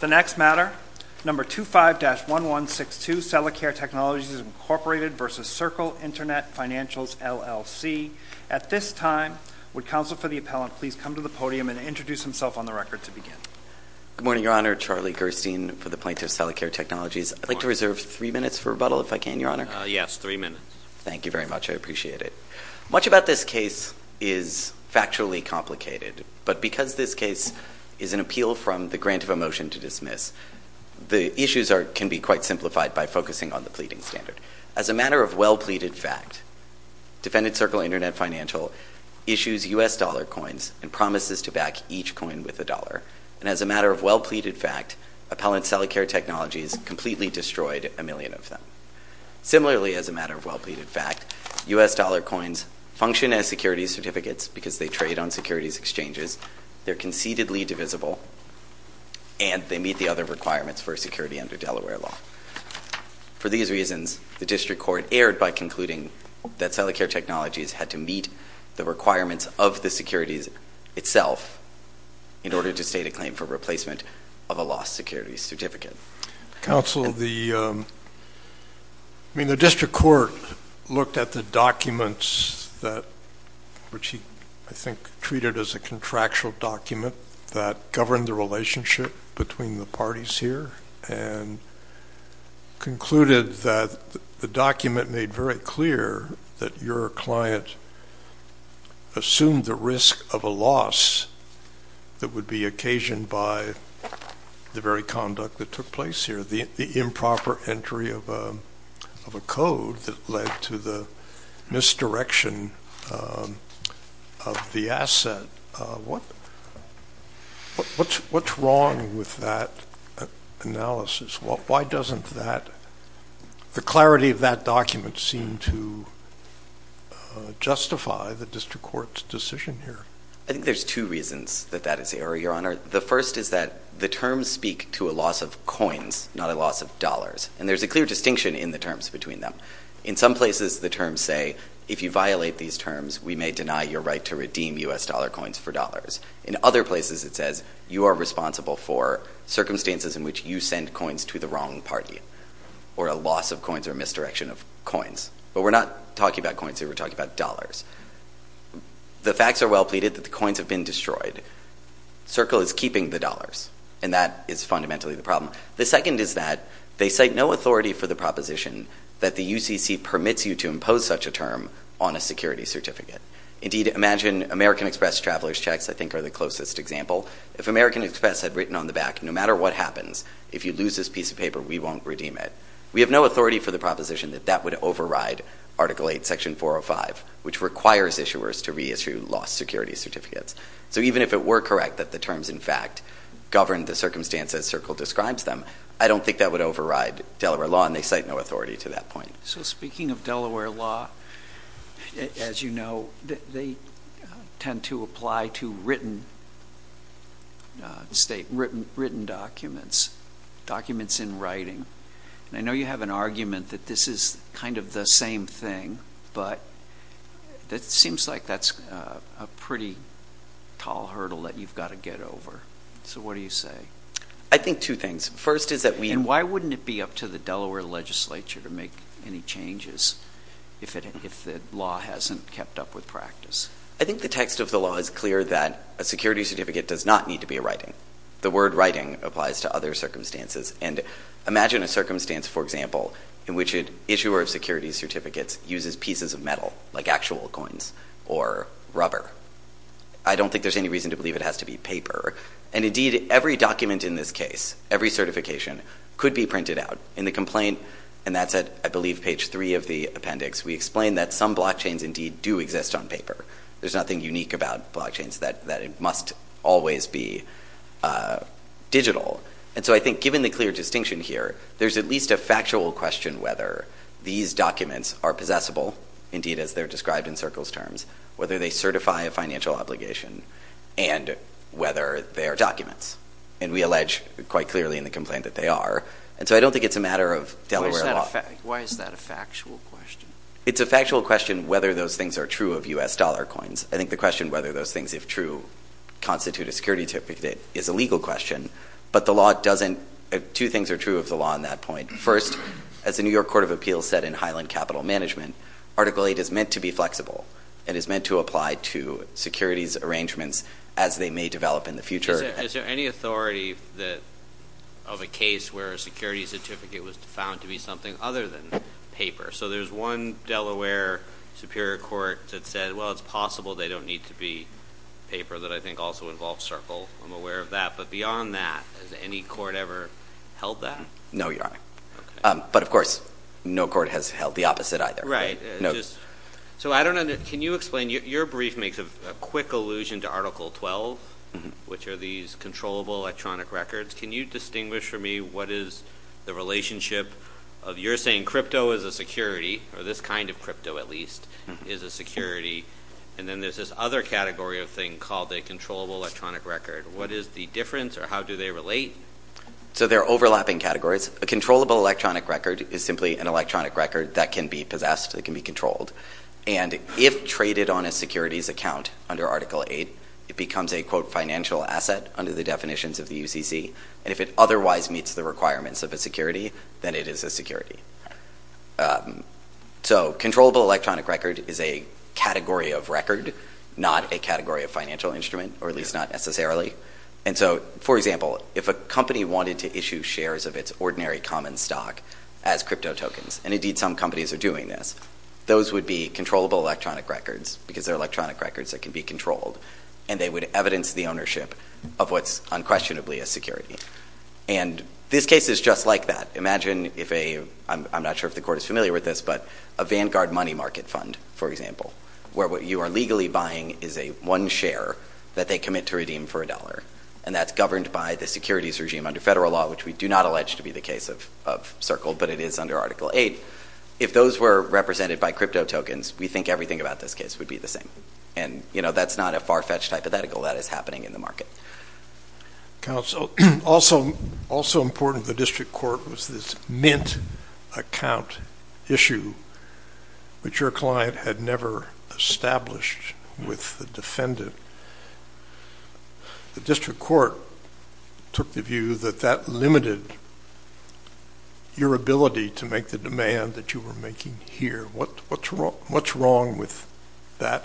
The next matter, No. 25-1162, Selacare Technologies, Inc. v. Circle Internet Financials, LLC. At this time, would Counsel for the Appellant please come to the podium and introduce himself on the record to begin? Good morning, Your Honor. Charlie Gerstein for the Plaintiff's Selacare Technologies. I'd like to reserve three minutes for rebuttal, if I can, Your Honor. Yes, three minutes. Thank you very much. I appreciate it. Much about this case is factually complicated, but because this case is an appeal from the grant of a motion to dismiss, the issues can be quite simplified by focusing on the pleading standard. As a matter of well-pleaded fact, Defendant Circle Internet Financial issues U.S. dollar coins and promises to back each coin with a dollar. And as a matter of well-pleaded fact, Appellant Selacare Technologies completely destroyed a million of them. Similarly, as a matter of well-pleaded fact, U.S. dollar coins function as securities certificates because they trade on securities exchanges, they're concededly divisible, and they meet the other requirements for security under Delaware law. For these reasons, the District Court erred by concluding that Selacare Technologies had to meet the requirements of the securities itself in order to state a claim for replacement of a lost securities certificate. Counsel, the – I mean, the District Court looked at the documents that – which he, I think, treated as a contractual document that governed the relationship between the parties here and concluded that the document made very clear that your client assumed the risk of a loss that would be occasioned by the very conduct that took place here, the improper entry of a code that led to the misdirection of the asset. What's wrong with that analysis? Why doesn't that – the clarity of that document seem to justify the District Court's decision here? I think there's two reasons that that is error, Your Honor. The first is that the terms speak to a loss of coins, not a loss of dollars. And there's a clear distinction in the terms between them. In some places, the terms say, if you violate these terms, we may deny your right to redeem U.S. dollar coins for dollars. In other places, it says you are responsible for circumstances in which you send coins to the wrong party or a loss of coins or misdirection of coins. But we're not talking about coins here. We're talking about dollars. The facts are well pleaded that the coins have been destroyed. Circle is keeping the dollars, and that is fundamentally the problem. The second is that they cite no authority for the proposition that the UCC permits you to impose such a term on a security certificate. Indeed, imagine American Express traveler's checks, I think, are the closest example. If American Express had written on the back, no matter what happens, if you lose this piece of paper, we won't redeem it, we have no authority for the proposition that that would override Article 8, Section 405, which requires issuers to reissue lost security certificates. So even if it were correct that the terms, in fact, governed the circumstances Circle describes them, I don't think that would override Delaware law, and they cite no authority to that point. So speaking of Delaware law, as you know, they tend to apply to written documents, documents in writing. I know you have an argument that this is kind of the same thing, but it seems like that's a pretty tall hurdle that you've got to get over. So what do you say? I think two things. First is that we... And why wouldn't it be up to the Delaware legislature to make any changes if the law hasn't kept up with practice? I think the text of the law is clear that a security certificate does not need to be a writing. The word writing applies to other circumstances, and imagine a circumstance, for example, in which an issuer of security certificates uses pieces of metal, like actual coins, or rubber. I don't think there's any reason to believe it has to be paper. And indeed, every document in this case, every certification, could be printed out. In the complaint, and that's at, I believe, page three of the appendix, we explain that some blockchains indeed do exist on paper. There's nothing unique about blockchains that it must always be digital. And so I think, given the clear distinction here, there's at least a factual question whether these documents are possessible, indeed, as they're described in Circles terms, whether they certify a financial obligation, and whether they are documents. And we allege quite clearly in the complaint that they are. And so I don't think it's a matter of Delaware law. Why is that a factual question? It's a factual question whether those things are true of U.S. dollar coins. I think the question whether those things, if true, constitute a security certificate is a legal question. But the law doesn't. Two things are true of the law on that point. First, as the New York Court of Appeals said in Highland Capital Management, Article 8 is meant to be flexible. It is meant to apply to securities arrangements as they may develop in the future. Is there any authority of a case where a security certificate was found to be something other than paper? So there's one Delaware superior court that said, well, it's possible they don't need to be paper that I think also involves circle. I'm aware of that. But beyond that, has any court ever held that? No, Your Honor. But, of course, no court has held the opposite either. Right. So I don't know. Can you explain? Your brief makes a quick allusion to Article 12, which are these controllable electronic records. Can you distinguish for me what is the relationship of you're saying crypto is a security, or this kind of crypto at least is a security, and then there's this other category of thing called a controllable electronic record? What is the difference, or how do they relate? So they're overlapping categories. A controllable electronic record is simply an electronic record that can be possessed, that can be controlled. And if traded on a securities account under Article 8, it becomes a, quote, financial asset under the definitions of the UCC. And if it otherwise meets the requirements of a security, then it is a security. So controllable electronic record is a category of record, not a category of financial instrument, or at least not necessarily. And so, for example, if a company wanted to issue shares of its ordinary common stock as crypto tokens, and indeed some companies are doing this, those would be controllable electronic records, because they're electronic records that can be controlled, and they would evidence the ownership of what's unquestionably a security. And this case is just like that. Imagine if a, I'm not sure if the court is familiar with this, but a Vanguard money market fund, for example, where what you are legally buying is a one share that they commit to redeem for a dollar, and that's governed by the securities regime under federal law, which we do not allege to be the case of Circle, but it is under Article 8. If those were represented by crypto tokens, we think everything about this case would be the same. And, you know, that's not a far-fetched hypothetical that is happening in the market. Counsel, also important to the district court was this Mint account issue, which your client had never established with the defendant. The district court took the view that that limited your ability to make the demand that you were making here. What's wrong with that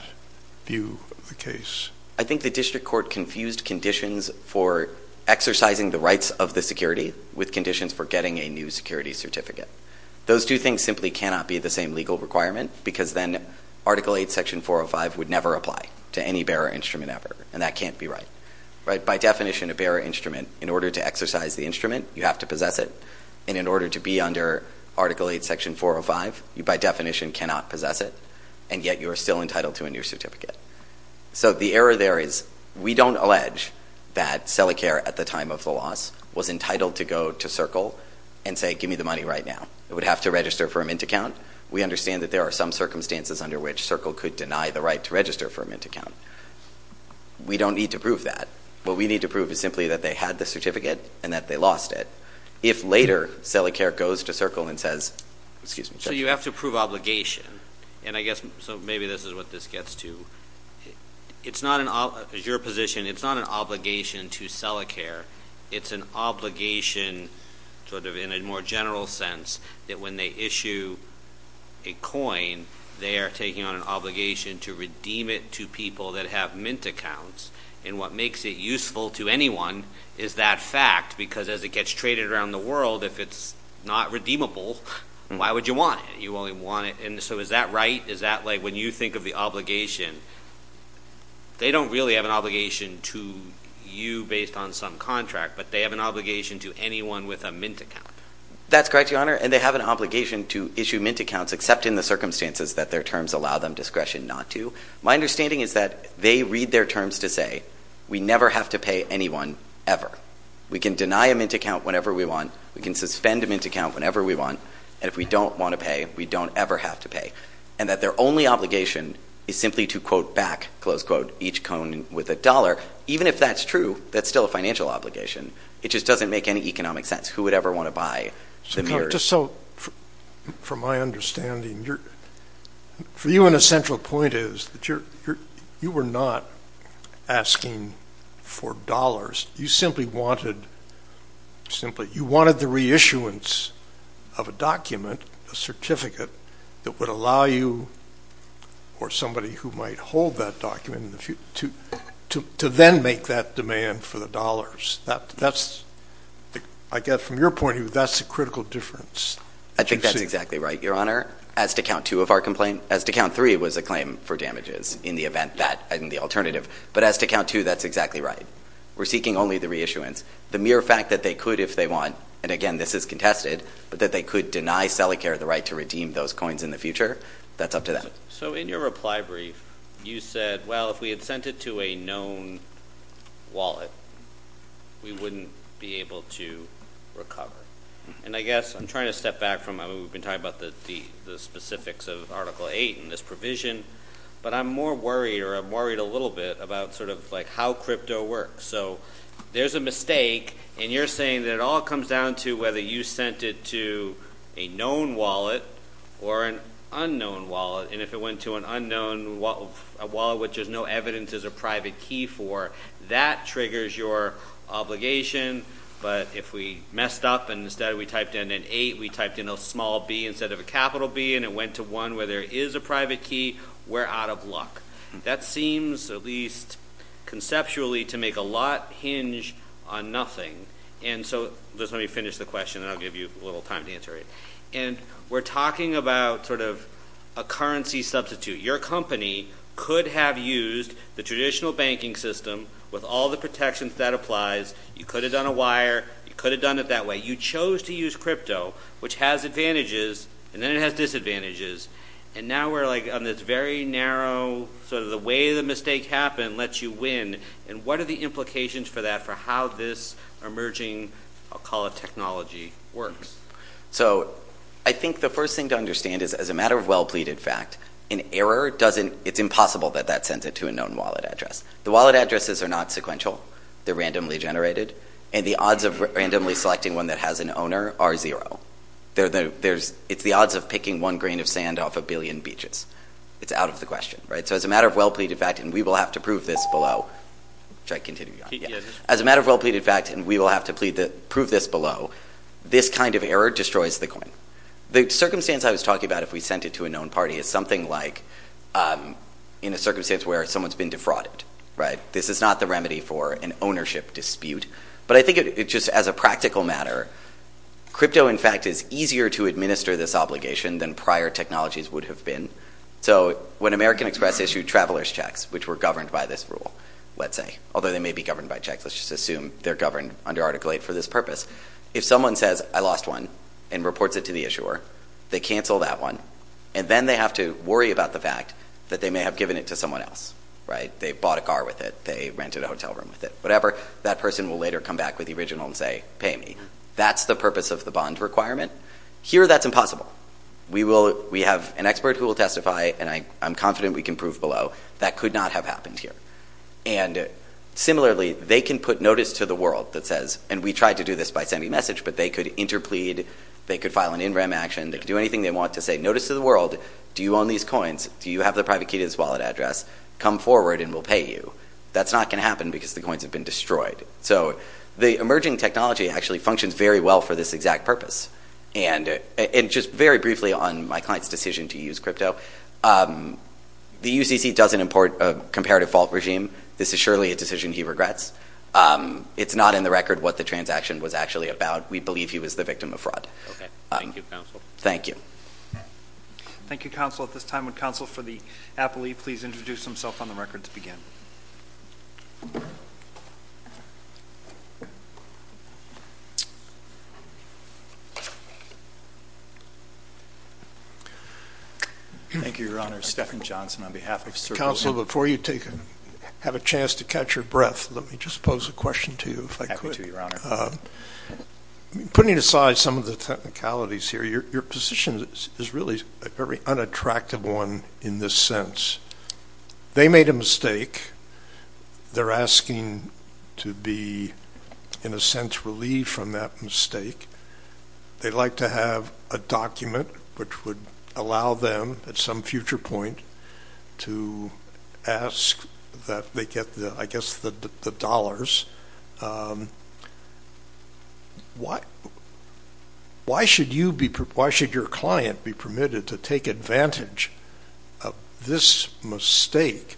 view of the case? I think the district court confused conditions for exercising the rights of the security with conditions for getting a new security certificate. Those two things simply cannot be the same legal requirement, because then Article 8, Section 405 would never apply to any bearer instrument ever, and that can't be right. By definition, a bearer instrument, in order to exercise the instrument, you have to possess it, and in order to be under Article 8, Section 405, you by definition cannot possess it, and yet you are still entitled to a new certificate. So the error there is we don't allege that Selicare, at the time of the loss, was entitled to go to CERCLE and say, give me the money right now. It would have to register for a Mint account. We understand that there are some circumstances under which CERCLE could deny the right to register for a Mint account. We don't need to prove that. What we need to prove is simply that they had the certificate and that they lost it. If later Selicare goes to CERCLE and says, excuse me. So you have to prove obligation, and I guess maybe this is what this gets to. It's not an obligation. As your position, it's not an obligation to Selicare. It's an obligation sort of in a more general sense that when they issue a coin, they are taking on an obligation to redeem it to people that have Mint accounts, and what makes it useful to anyone is that fact, because as it gets traded around the world, if it's not redeemable, why would you want it? You only want it. And so is that right? Is that like when you think of the obligation, they don't really have an obligation to you based on some contract, but they have an obligation to anyone with a Mint account. That's correct, Your Honor, and they have an obligation to issue Mint accounts except in the circumstances that their terms allow them discretion not to. My understanding is that they read their terms to say, we never have to pay anyone ever. We can deny a Mint account whenever we want. We can suspend a Mint account whenever we want, and if we don't want to pay, we don't ever have to pay, and that their only obligation is simply to, quote, back, close quote, each cone with a dollar. Even if that's true, that's still a financial obligation. It just doesn't make any economic sense. Who would ever want to buy the Mirrors? Just so from my understanding, for you an essential point is that you were not asking for dollars. You simply wanted the reissuance of a document, a certificate, that would allow you or somebody who might hold that document to then make that demand for the dollars. I guess from your point of view, that's the critical difference. I think that's exactly right, Your Honor. As to count two of our complaints, as to count three, it was a claim for damages in the alternative, but as to count two, that's exactly right. We're seeking only the reissuance. The mere fact that they could if they want, and again, this is contested, but that they could deny Selecare the right to redeem those coins in the future, that's up to them. So in your reply brief, you said, well, if we had sent it to a known wallet, we wouldn't be able to recover. And I guess I'm trying to step back from what we've been talking about, the specifics of Article 8 and this provision, but I'm more worried or I'm worried a little bit about sort of like how crypto works. So there's a mistake, and you're saying that it all comes down to whether you sent it to a known wallet or an unknown wallet, and if it went to an unknown wallet, which there's no evidence there's a private key for, that triggers your obligation. But if we messed up and instead we typed in an 8, we typed in a small B instead of a capital B, and it went to one where there is a private key, we're out of luck. That seems at least conceptually to make a lot hinge on nothing. And so just let me finish the question, and I'll give you a little time to answer it. And we're talking about sort of a currency substitute. Your company could have used the traditional banking system with all the protections that applies. You could have done a wire. You could have done it that way. But you chose to use crypto, which has advantages, and then it has disadvantages, and now we're like on this very narrow sort of the way the mistake happened lets you win, and what are the implications for that for how this emerging, I'll call it technology, works? So I think the first thing to understand is as a matter of well pleaded fact, an error doesn't, it's impossible that that sends it to a known wallet address. The wallet addresses are not sequential. They're randomly generated, and the odds of randomly selecting one that has an owner are zero. It's the odds of picking one grain of sand off a billion beaches. It's out of the question. So as a matter of well pleaded fact, and we will have to prove this below, this kind of error destroys the coin. The circumstance I was talking about, if we sent it to a known party, is something like in a circumstance where someone's been defrauded. This is not the remedy for an ownership dispute, but I think just as a practical matter, crypto, in fact, is easier to administer this obligation than prior technologies would have been. So when American Express issued traveler's checks, which were governed by this rule, let's say, although they may be governed by checks. Let's just assume they're governed under Article 8 for this purpose. If someone says, I lost one, and reports it to the issuer, they cancel that one, and then they have to worry about the fact that they may have given it to someone else. They bought a car with it. They rented a hotel room with it. Whatever. That person will later come back with the original and say, pay me. That's the purpose of the bond requirement. Here, that's impossible. We have an expert who will testify, and I'm confident we can prove below, that could not have happened here. And similarly, they can put notice to the world that says, and we tried to do this by sending a message, but they could interplead. They could file an in rem action. They could do anything they want to say. Notice to the world, do you own these coins? Do you have the private key to this wallet address? Come forward and we'll pay you. That's not going to happen because the coins have been destroyed. So the emerging technology actually functions very well for this exact purpose. And just very briefly on my client's decision to use crypto, the UCC doesn't import a comparative fault regime. This is surely a decision he regrets. It's not in the record what the transaction was actually about. We believe he was the victim of fraud. Okay. Thank you, Counsel. Thank you. Thank you, Counsel. At this time, would Counsel for the appellee please introduce himself on the record to begin? Thank you, Your Honor. Stephen Johnson on behalf of CERB. Counsel, before you have a chance to catch your breath, let me just pose a question to you if I could. Happy to, Your Honor. Putting aside some of the technicalities here, your position is really a very unattractive one in this sense. They made a mistake. They're asking to be, in a sense, relieved from that mistake. They'd like to have a document which would allow them at some future point to ask that they get, I guess, the dollars. Why should your client be permitted to take advantage of this mistake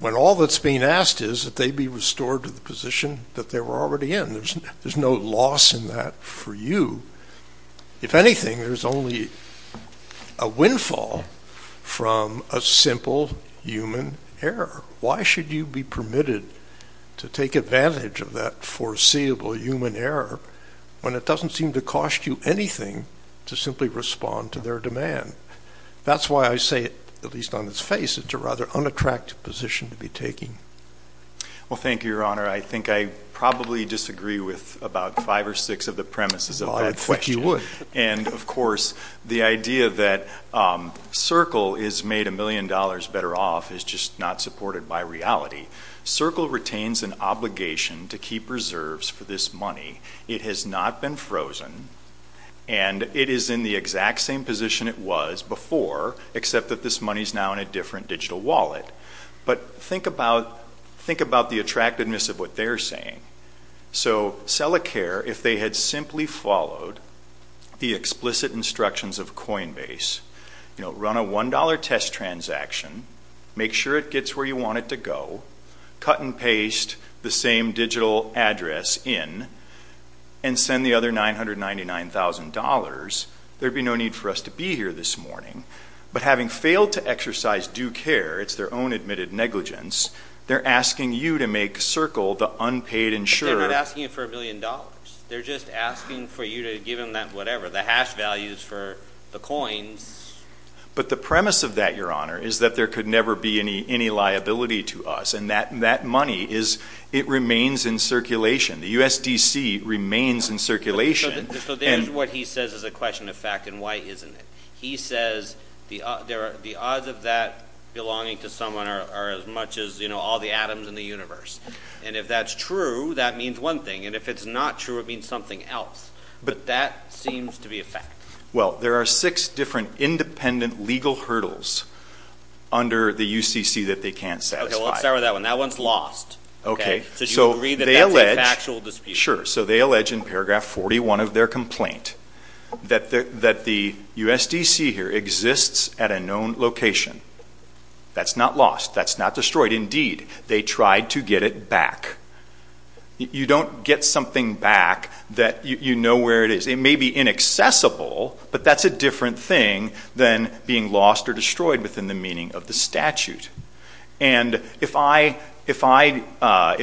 when all that's being asked is that they be restored to the position that they were already in? There's no loss in that for you. If anything, there's only a windfall from a simple human error. Why should you be permitted to take advantage of that foreseeable human error when it doesn't seem to cost you anything to simply respond to their demand? That's why I say, at least on its face, it's a rather unattractive position to be taking. Well, thank you, Your Honor. I think I probably disagree with about five or six of the premises of that question. Well, I'd think you would. And, of course, the idea that Circle is made a million dollars better off is just not supported by reality. Circle retains an obligation to keep reserves for this money. It has not been frozen, and it is in the exact same position it was before, except that this money is now in a different digital wallet. But think about the attractiveness of what they're saying. So, Selicare, if they had simply followed the explicit instructions of Coinbase, run a $1 test transaction, make sure it gets where you want it to go, cut and paste the same digital address in, and send the other $999,000, there would be no need for us to be here this morning. But having failed to exercise due care, it's their own admitted negligence, they're asking you to make Circle the unpaid insurer. But they're not asking you for a million dollars. They're just asking for you to give them that whatever, the hash values for the coins. But the premise of that, Your Honor, is that there could never be any liability to us, and that money, it remains in circulation. The USDC remains in circulation. So there's what he says is a question of fact, and why isn't it? He says the odds of that belonging to someone are as much as all the atoms in the universe. And if that's true, that means one thing. And if it's not true, it means something else. But that seems to be a fact. Well, there are six different independent legal hurdles under the UCC that they can't satisfy. Okay, well, let's start with that one. That one's lost. Okay. So you agree that that's a factual dispute? Sure. So they allege in paragraph 41 of their complaint that the USDC here exists at a known location. That's not lost. That's not destroyed. Indeed, they tried to get it back. You don't get something back that you know where it is. It may be inaccessible, but that's a different thing than being lost or destroyed within the meaning of the statute. And if you and I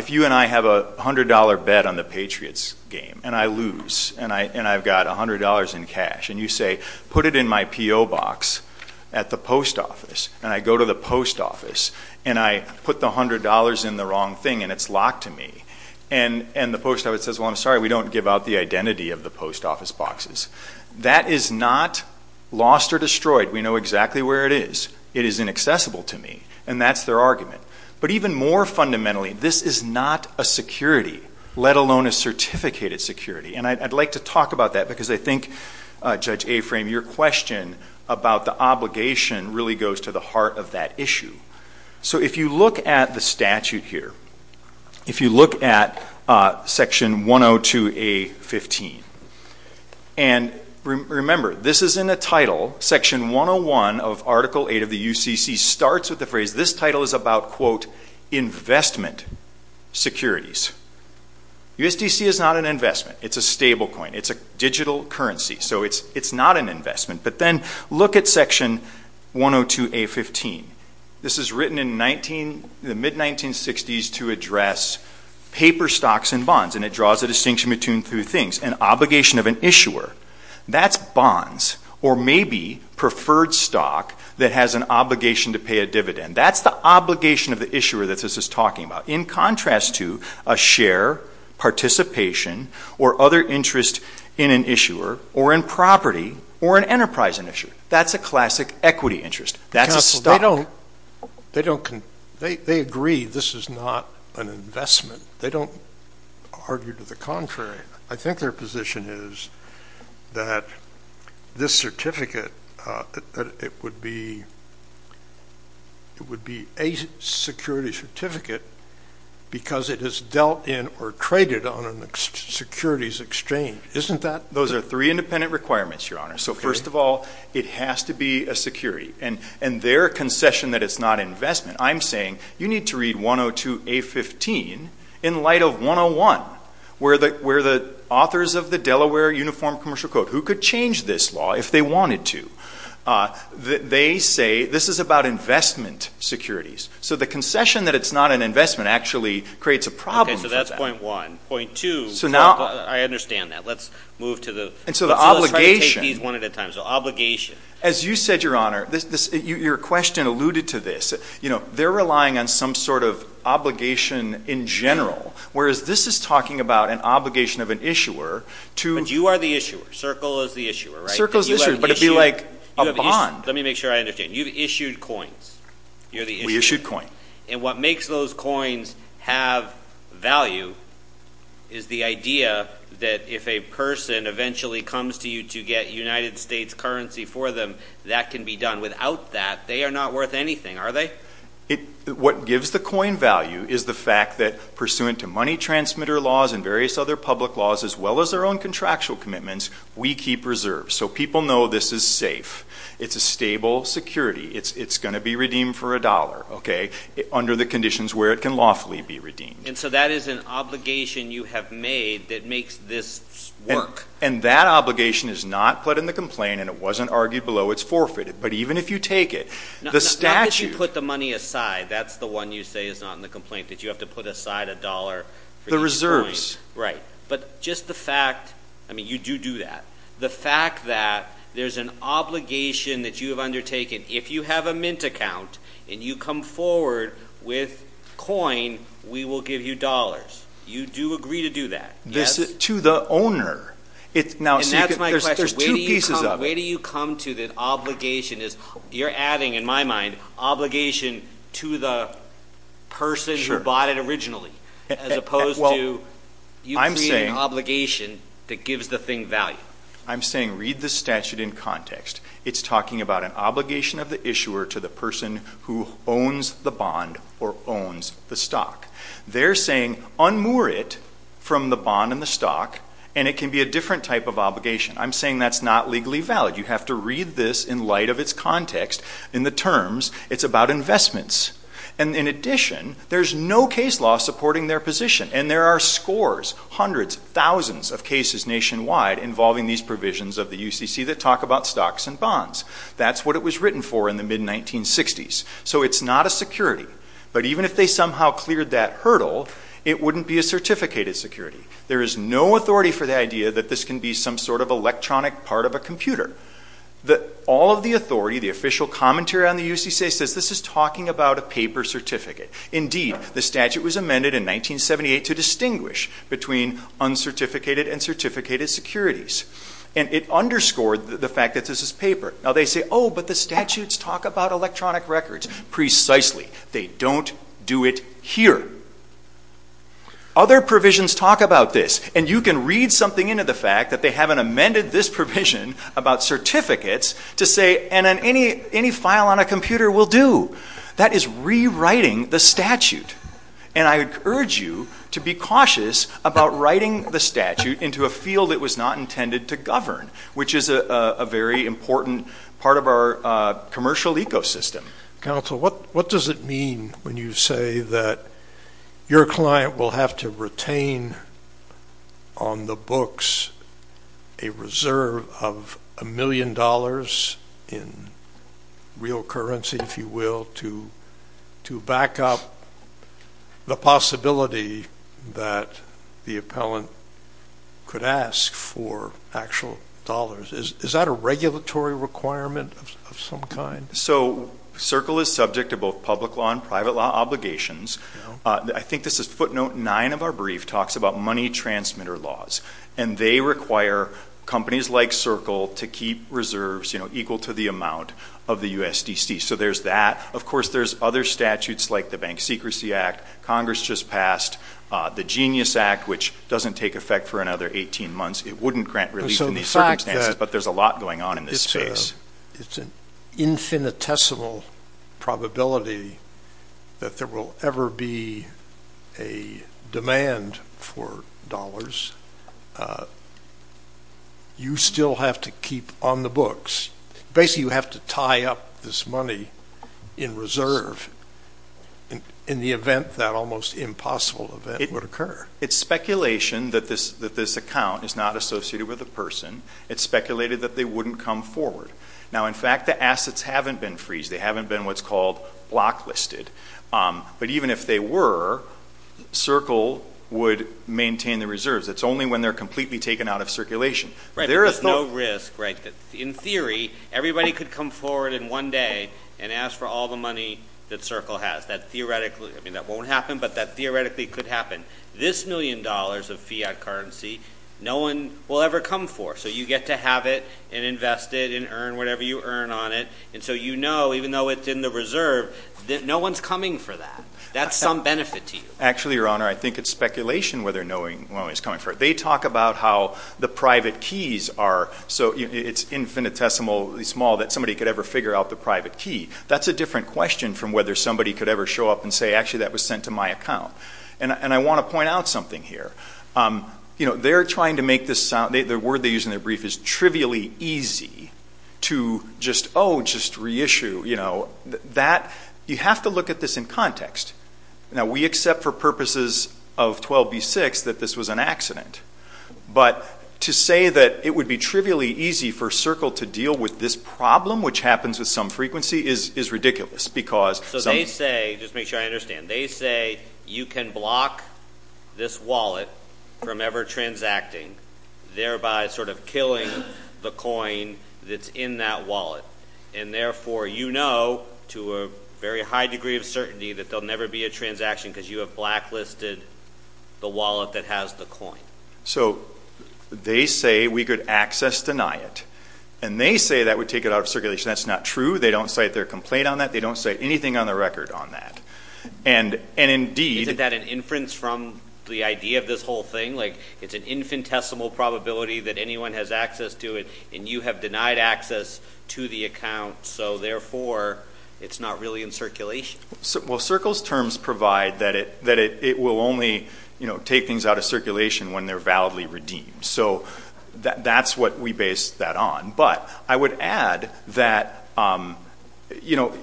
have a $100 bet on the Patriots game, and I lose, and I've got $100 in cash, and you say, put it in my P.O. box at the post office, and I go to the post office, and I put the $100 in the wrong thing, and it's locked to me. And the post office says, well, I'm sorry, we don't give out the identity of the post office boxes. That is not lost or destroyed. We know exactly where it is. It is inaccessible to me. And that's their argument. But even more fundamentally, this is not a security, let alone a certificated security. And I'd like to talk about that because I think, Judge Aframe, your question about the obligation really goes to the heart of that issue. So if you look at the statute here, if you look at Section 102A.15, and remember, this is in the title. Section 101 of Article 8 of the UCC starts with the phrase, this title is about, quote, investment securities. USDC is not an investment. It's a stable coin. It's a digital currency. So it's not an investment. But then look at Section 102A.15. This is written in the mid-1960s to address paper stocks and bonds, and it draws a distinction between two things. An obligation of an issuer, that's bonds, or maybe preferred stock that has an obligation to pay a dividend. That's the obligation of the issuer that this is talking about, in contrast to a share, participation, or other interest in an issuer, or in property, or an enterprising issue. That's a classic equity interest. That's a stock. They agree this is not an investment. They don't argue to the contrary. I think their position is that this certificate, it would be a security certificate because it is dealt in or traded on a securities exchange. Isn't that? Those are three independent requirements, Your Honor. So first of all, it has to be a security. And their concession that it's not investment, I'm saying you need to read 102A.15 in light of 101, where the authors of the Delaware Uniform Commercial Code, who could change this law if they wanted to, they say this is about investment securities. So the concession that it's not an investment actually creates a problem. Okay, so that's point one. Point two, I understand that. Let's move to the – And so the obligation. Let's try to take these one at a time. So obligation. As you said, Your Honor, your question alluded to this. They're relying on some sort of obligation in general, whereas this is talking about an obligation of an issuer to – But you are the issuer. Circle is the issuer, right? Circle is the issuer, but it would be like a bond. Let me make sure I understand. You've issued coins. You're the issuer. We issued coin. And what makes those coins have value is the idea that if a person eventually comes to you to get United States currency for them, that can be done. Without that, they are not worth anything, are they? What gives the coin value is the fact that pursuant to money transmitter laws and various other public laws as well as their own contractual commitments, we keep reserves. So people know this is safe. It's a stable security. It's going to be redeemed for a dollar under the conditions where it can lawfully be redeemed. And so that is an obligation you have made that makes this work. And that obligation is not put in the complaint, and it wasn't argued below. It's forfeited. But even if you take it, the statute – Put the money aside. That's the one you say is not in the complaint, that you have to put aside a dollar for getting coins. Right. But just the fact – I mean, you do do that. The fact that there's an obligation that you have undertaken. If you have a mint account and you come forward with coin, we will give you dollars. You do agree to do that, yes? To the owner. And that's my question. There's two pieces of it. The way that you come to the obligation is you're adding, in my mind, obligation to the person who bought it originally, as opposed to you creating an obligation that gives the thing value. I'm saying read the statute in context. It's talking about an obligation of the issuer to the person who owns the bond or owns the stock. They're saying unmoor it from the bond and the stock, and it can be a different type of obligation. I'm saying that's not legally valid. You have to read this in light of its context. In the terms, it's about investments. And in addition, there's no case law supporting their position. And there are scores, hundreds, thousands of cases nationwide involving these provisions of the UCC that talk about stocks and bonds. That's what it was written for in the mid-1960s. So it's not a security. But even if they somehow cleared that hurdle, it wouldn't be a certificated security. There is no authority for the idea that this can be some sort of electronic part of a computer. All of the authority, the official commentary on the UCC, says this is talking about a paper certificate. Indeed, the statute was amended in 1978 to distinguish between uncertificated and certificated securities. And it underscored the fact that this is paper. Now they say, oh, but the statutes talk about electronic records. Precisely. They don't do it here. Other provisions talk about this. And you can read something into the fact that they haven't amended this provision about certificates to say any file on a computer will do. That is rewriting the statute. And I would urge you to be cautious about writing the statute into a field that was not intended to govern, which is a very important part of our commercial ecosystem. Counsel, what does it mean when you say that your client will have to retain on the books a reserve of a million dollars in real currency, if you will, to back up the possibility that the appellant could ask for actual dollars? Is that a regulatory requirement of some kind? So CERCLE is subject to both public law and private law obligations. I think this is footnote nine of our brief talks about money transmitter laws. And they require companies like CERCLE to keep reserves equal to the amount of the USDC. So there's that. Of course, there's other statutes like the Bank Secrecy Act Congress just passed, the Genius Act, which doesn't take effect for another 18 months. It wouldn't grant relief in these circumstances, but there's a lot going on in this space. It's an infinitesimal probability that there will ever be a demand for dollars. You still have to keep on the books. Basically, you have to tie up this money in reserve in the event that almost impossible event would occur. It's speculation that this account is not associated with a person. It's speculated that they wouldn't come forward. Now, in fact, the assets haven't been freezed. They haven't been what's called block listed. But even if they were, CERCLE would maintain the reserves. It's only when they're completely taken out of circulation. There is no risk. In theory, everybody could come forward in one day and ask for all the money that CERCLE has. That won't happen, but that theoretically could happen. This million dollars of fiat currency, no one will ever come for. So you get to have it and invest it and earn whatever you earn on it. And so you know, even though it's in the reserve, that no one's coming for that. That's some benefit to you. Actually, Your Honor, I think it's speculation whether no one is coming for it. They talk about how the private keys are so infinitesimally small that somebody could ever figure out the private key. That's a different question from whether somebody could ever show up and say, actually, that was sent to my account. And I want to point out something here. You know, they're trying to make this sound, the word they use in their brief is trivially easy to just, oh, just reissue. You know, that, you have to look at this in context. Now, we accept for purposes of 12b-6 that this was an accident. But to say that it would be trivially easy for CERCLE to deal with this problem, which happens with some frequency, is ridiculous. So they say, just to make sure I understand, they say you can block this wallet from ever transacting, thereby sort of killing the coin that's in that wallet. And therefore, you know to a very high degree of certainty that there will never be a transaction because you have blacklisted the wallet that has the coin. So they say we could access deny it. And they say that would take it out of circulation. That's not true. They don't cite their complaint on that. They don't cite anything on the record on that. And indeed. Isn't that an inference from the idea of this whole thing? Like it's an infinitesimal probability that anyone has access to it. And you have denied access to the account. So therefore, it's not really in circulation. Well, CERCLE's terms provide that it will only, you know, take things out of circulation when they're validly redeemed. So that's what we base that on. But I would add that, you know,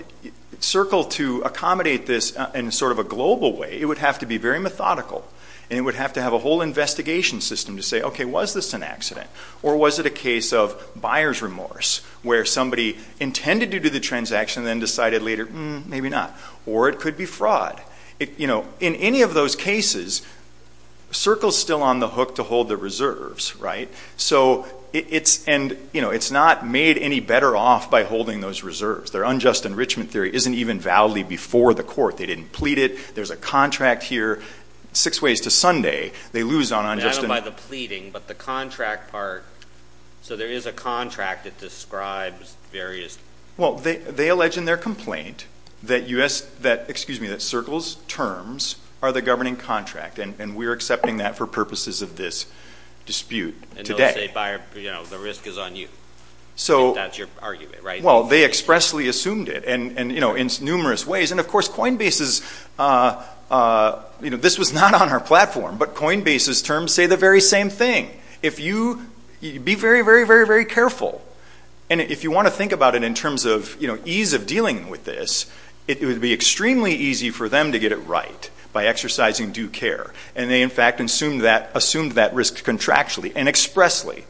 CERCLE to accommodate this in sort of a global way, it would have to be very methodical. And it would have to have a whole investigation system to say, okay, was this an accident? Or was it a case of buyer's remorse where somebody intended to do the transaction and then decided later, maybe not. Or it could be fraud. You know, in any of those cases, CERCLE's still on the hook to hold the reserves, right? So it's not made any better off by holding those reserves. Their unjust enrichment theory isn't even validly before the court. They didn't plead it. There's a contract here six ways to Sunday. They lose on unjust enrichment. I don't know about the pleading, but the contract part. So there is a contract that describes various. Well, they allege in their complaint that CERCLE's terms are the governing contract. And we're accepting that for purposes of this dispute today. And they'll say, you know, the risk is on you if that's your argument, right? Well, they expressly assumed it in numerous ways. And, of course, Coinbase's, you know, this was not on our platform, but Coinbase's terms say the very same thing. Be very, very, very, very careful. And if you want to think about it in terms of ease of dealing with this, it would be extremely easy for them to get it right by exercising due care. And they, in fact, assumed that risk contractually and expressly.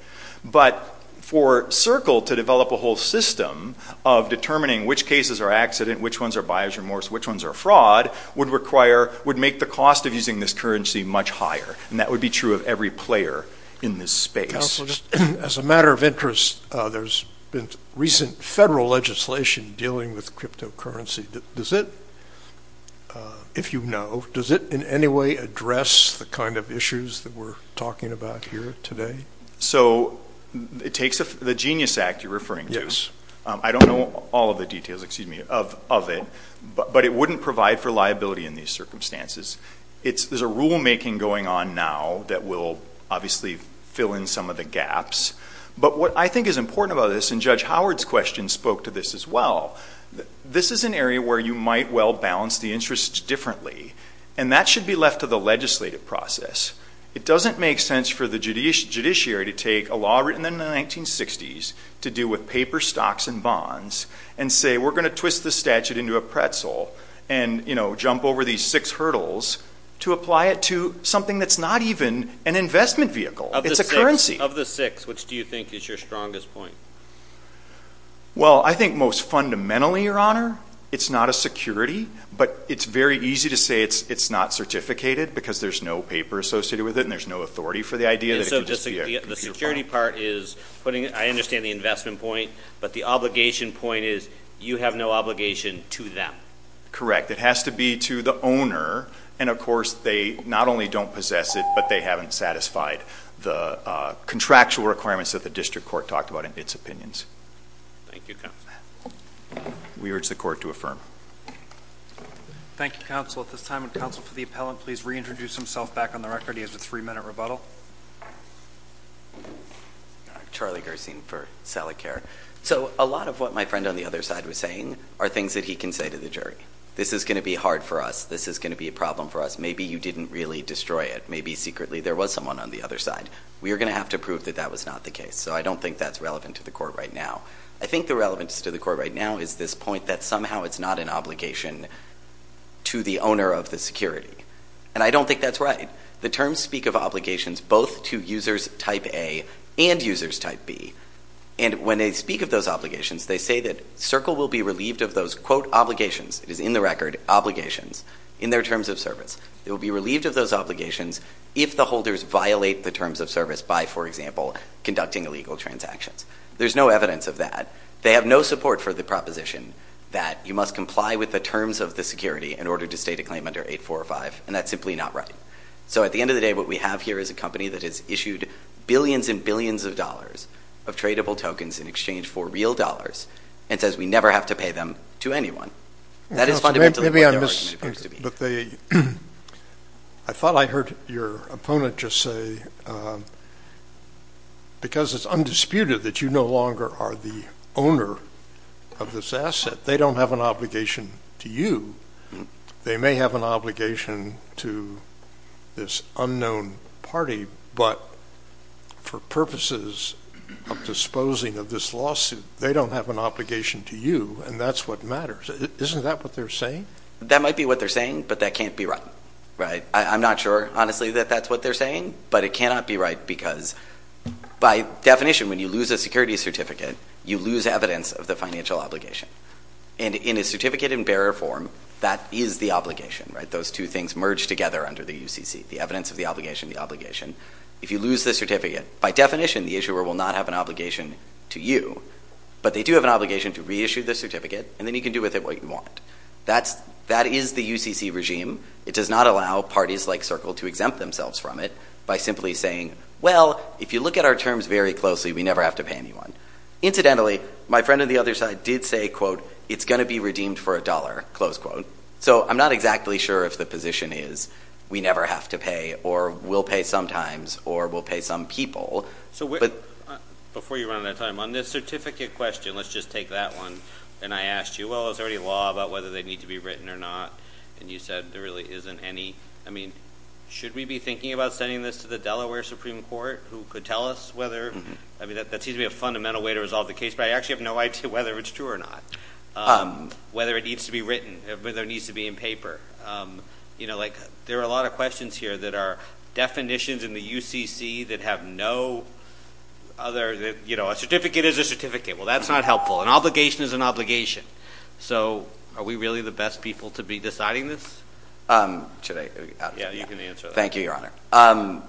But for CERCLE to develop a whole system of determining which cases are accident, which ones are bias remorse, which ones are fraud would make the cost of using this currency much higher. And that would be true of every player in this space. As a matter of interest, there's been recent federal legislation dealing with cryptocurrency. Does it, if you know, does it in any way address the kind of issues that we're talking about here today? So it takes the Genius Act you're referring to. I don't know all of the details, excuse me, of it. But it wouldn't provide for liability in these circumstances. There's a rulemaking going on now that will obviously fill in some of the gaps. But what I think is important about this, and Judge Howard's question spoke to this as well, this is an area where you might well balance the interests differently. And that should be left to the legislative process. It doesn't make sense for the judiciary to take a law written in the 1960s to do with paper stocks and bonds and say we're going to twist the statute into a pretzel and, you know, jump over these six hurdles to apply it to something that's not even an investment vehicle. It's a currency. Of the six, which do you think is your strongest point? Well, I think most fundamentally, Your Honor, it's not a security. But it's very easy to say it's not certificated because there's no paper associated with it and there's no authority for the idea that it could just be a computer phone. The security part is putting it, I understand the investment point, but the obligation point is you have no obligation to them. Correct. It has to be to the owner. And, of course, they not only don't possess it, but they haven't satisfied the contractual requirements that the district court talked about in its opinions. Thank you, counsel. We urge the court to affirm. Thank you, counsel. At this time, would counsel for the appellant please reintroduce himself back on the record? He has a three-minute rebuttal. Charlie Gersine for Salicare. So a lot of what my friend on the other side was saying are things that he can say to the jury. This is going to be hard for us. This is going to be a problem for us. Maybe you didn't really destroy it. Maybe secretly there was someone on the other side. We are going to have to prove that that was not the case. So I don't think that's relevant to the court right now. I think the relevance to the court right now is this point that somehow it's not an obligation to the owner of the security. And I don't think that's right. The terms speak of obligations both to users type A and users type B. And when they speak of those obligations, they say that Circle will be relieved of those, quote, obligations. It is in the record, obligations, in their terms of service. They will be relieved of those obligations if the holders violate the terms of service by, for example, conducting illegal transactions. There's no evidence of that. They have no support for the proposition that you must comply with the terms of the security in order to state a claim under 845. And that's simply not right. So at the end of the day, what we have here is a company that has issued billions and billions of dollars of tradable tokens in exchange for real dollars and says we never have to pay them to anyone. That is fundamentally what the argument is supposed to be. I thought I heard your opponent just say, because it's undisputed that you no longer are the owner of this asset, they don't have an obligation to you. They may have an obligation to this unknown party, but for purposes of disposing of this lawsuit, they don't have an obligation to you, and that's what matters. Isn't that what they're saying? That might be what they're saying, but that can't be right. I'm not sure, honestly, that that's what they're saying, but it cannot be right because by definition, when you lose a security certificate, you lose evidence of the financial obligation. And in a certificate in bearer form, that is the obligation. Those two things merge together under the UCC, the evidence of the obligation, the obligation. If you lose the certificate, by definition, the issuer will not have an obligation to you, but they do have an obligation to reissue the certificate, and then you can do with it what you want. That is the UCC regime. It does not allow parties like Circle to exempt themselves from it by simply saying, well, if you look at our terms very closely, we never have to pay anyone. Incidentally, my friend on the other side did say, quote, it's going to be redeemed for a dollar, close quote. So I'm not exactly sure if the position is we never have to pay or we'll pay sometimes or we'll pay some people. So before you run out of time, on this certificate question, let's just take that one. And I asked you, well, is there any law about whether they need to be written or not? And you said there really isn't any. I mean, should we be thinking about sending this to the Delaware Supreme Court who could tell us whether? I mean, that seems to be a fundamental way to resolve the case, but I actually have no idea whether it's true or not, whether it needs to be written, whether it needs to be in paper. You know, like there are a lot of questions here that are definitions in the UCC that have no other, you know, a certificate is a certificate. Well, that's not helpful. An obligation is an obligation. So are we really the best people to be deciding this? Should I? Yeah, you can answer that. Thank you, Your Honor.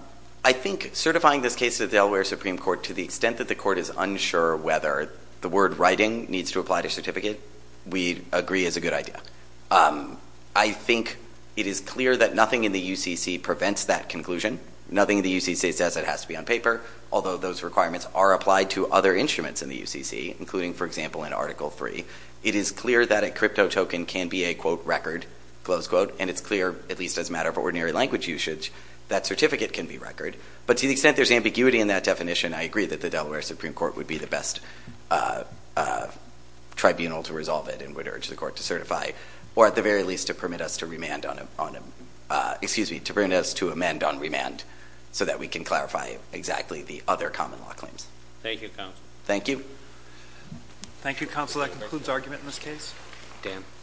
I think certifying this case to the Delaware Supreme Court to the extent that the court is unsure whether the word writing needs to apply to certificate, we agree is a good idea. I think it is clear that nothing in the UCC prevents that conclusion. Nothing in the UCC says it has to be on paper, although those requirements are applied to other instruments in the UCC, including, for example, in Article III. It is clear that a crypto token can be a, quote, record, close quote, and it's clear, at least as a matter of ordinary language usage, that certificate can be record. But to the extent there's ambiguity in that definition, I agree that the Delaware Supreme Court would be the best tribunal to resolve it and would urge the court to certify, or at the very least to permit us to remand on a, excuse me, to permit us to amend on remand so that we can clarify exactly the other common law claims. Thank you, Counsel. Thank you. Thank you, Counsel. That concludes argument in this case. Dan.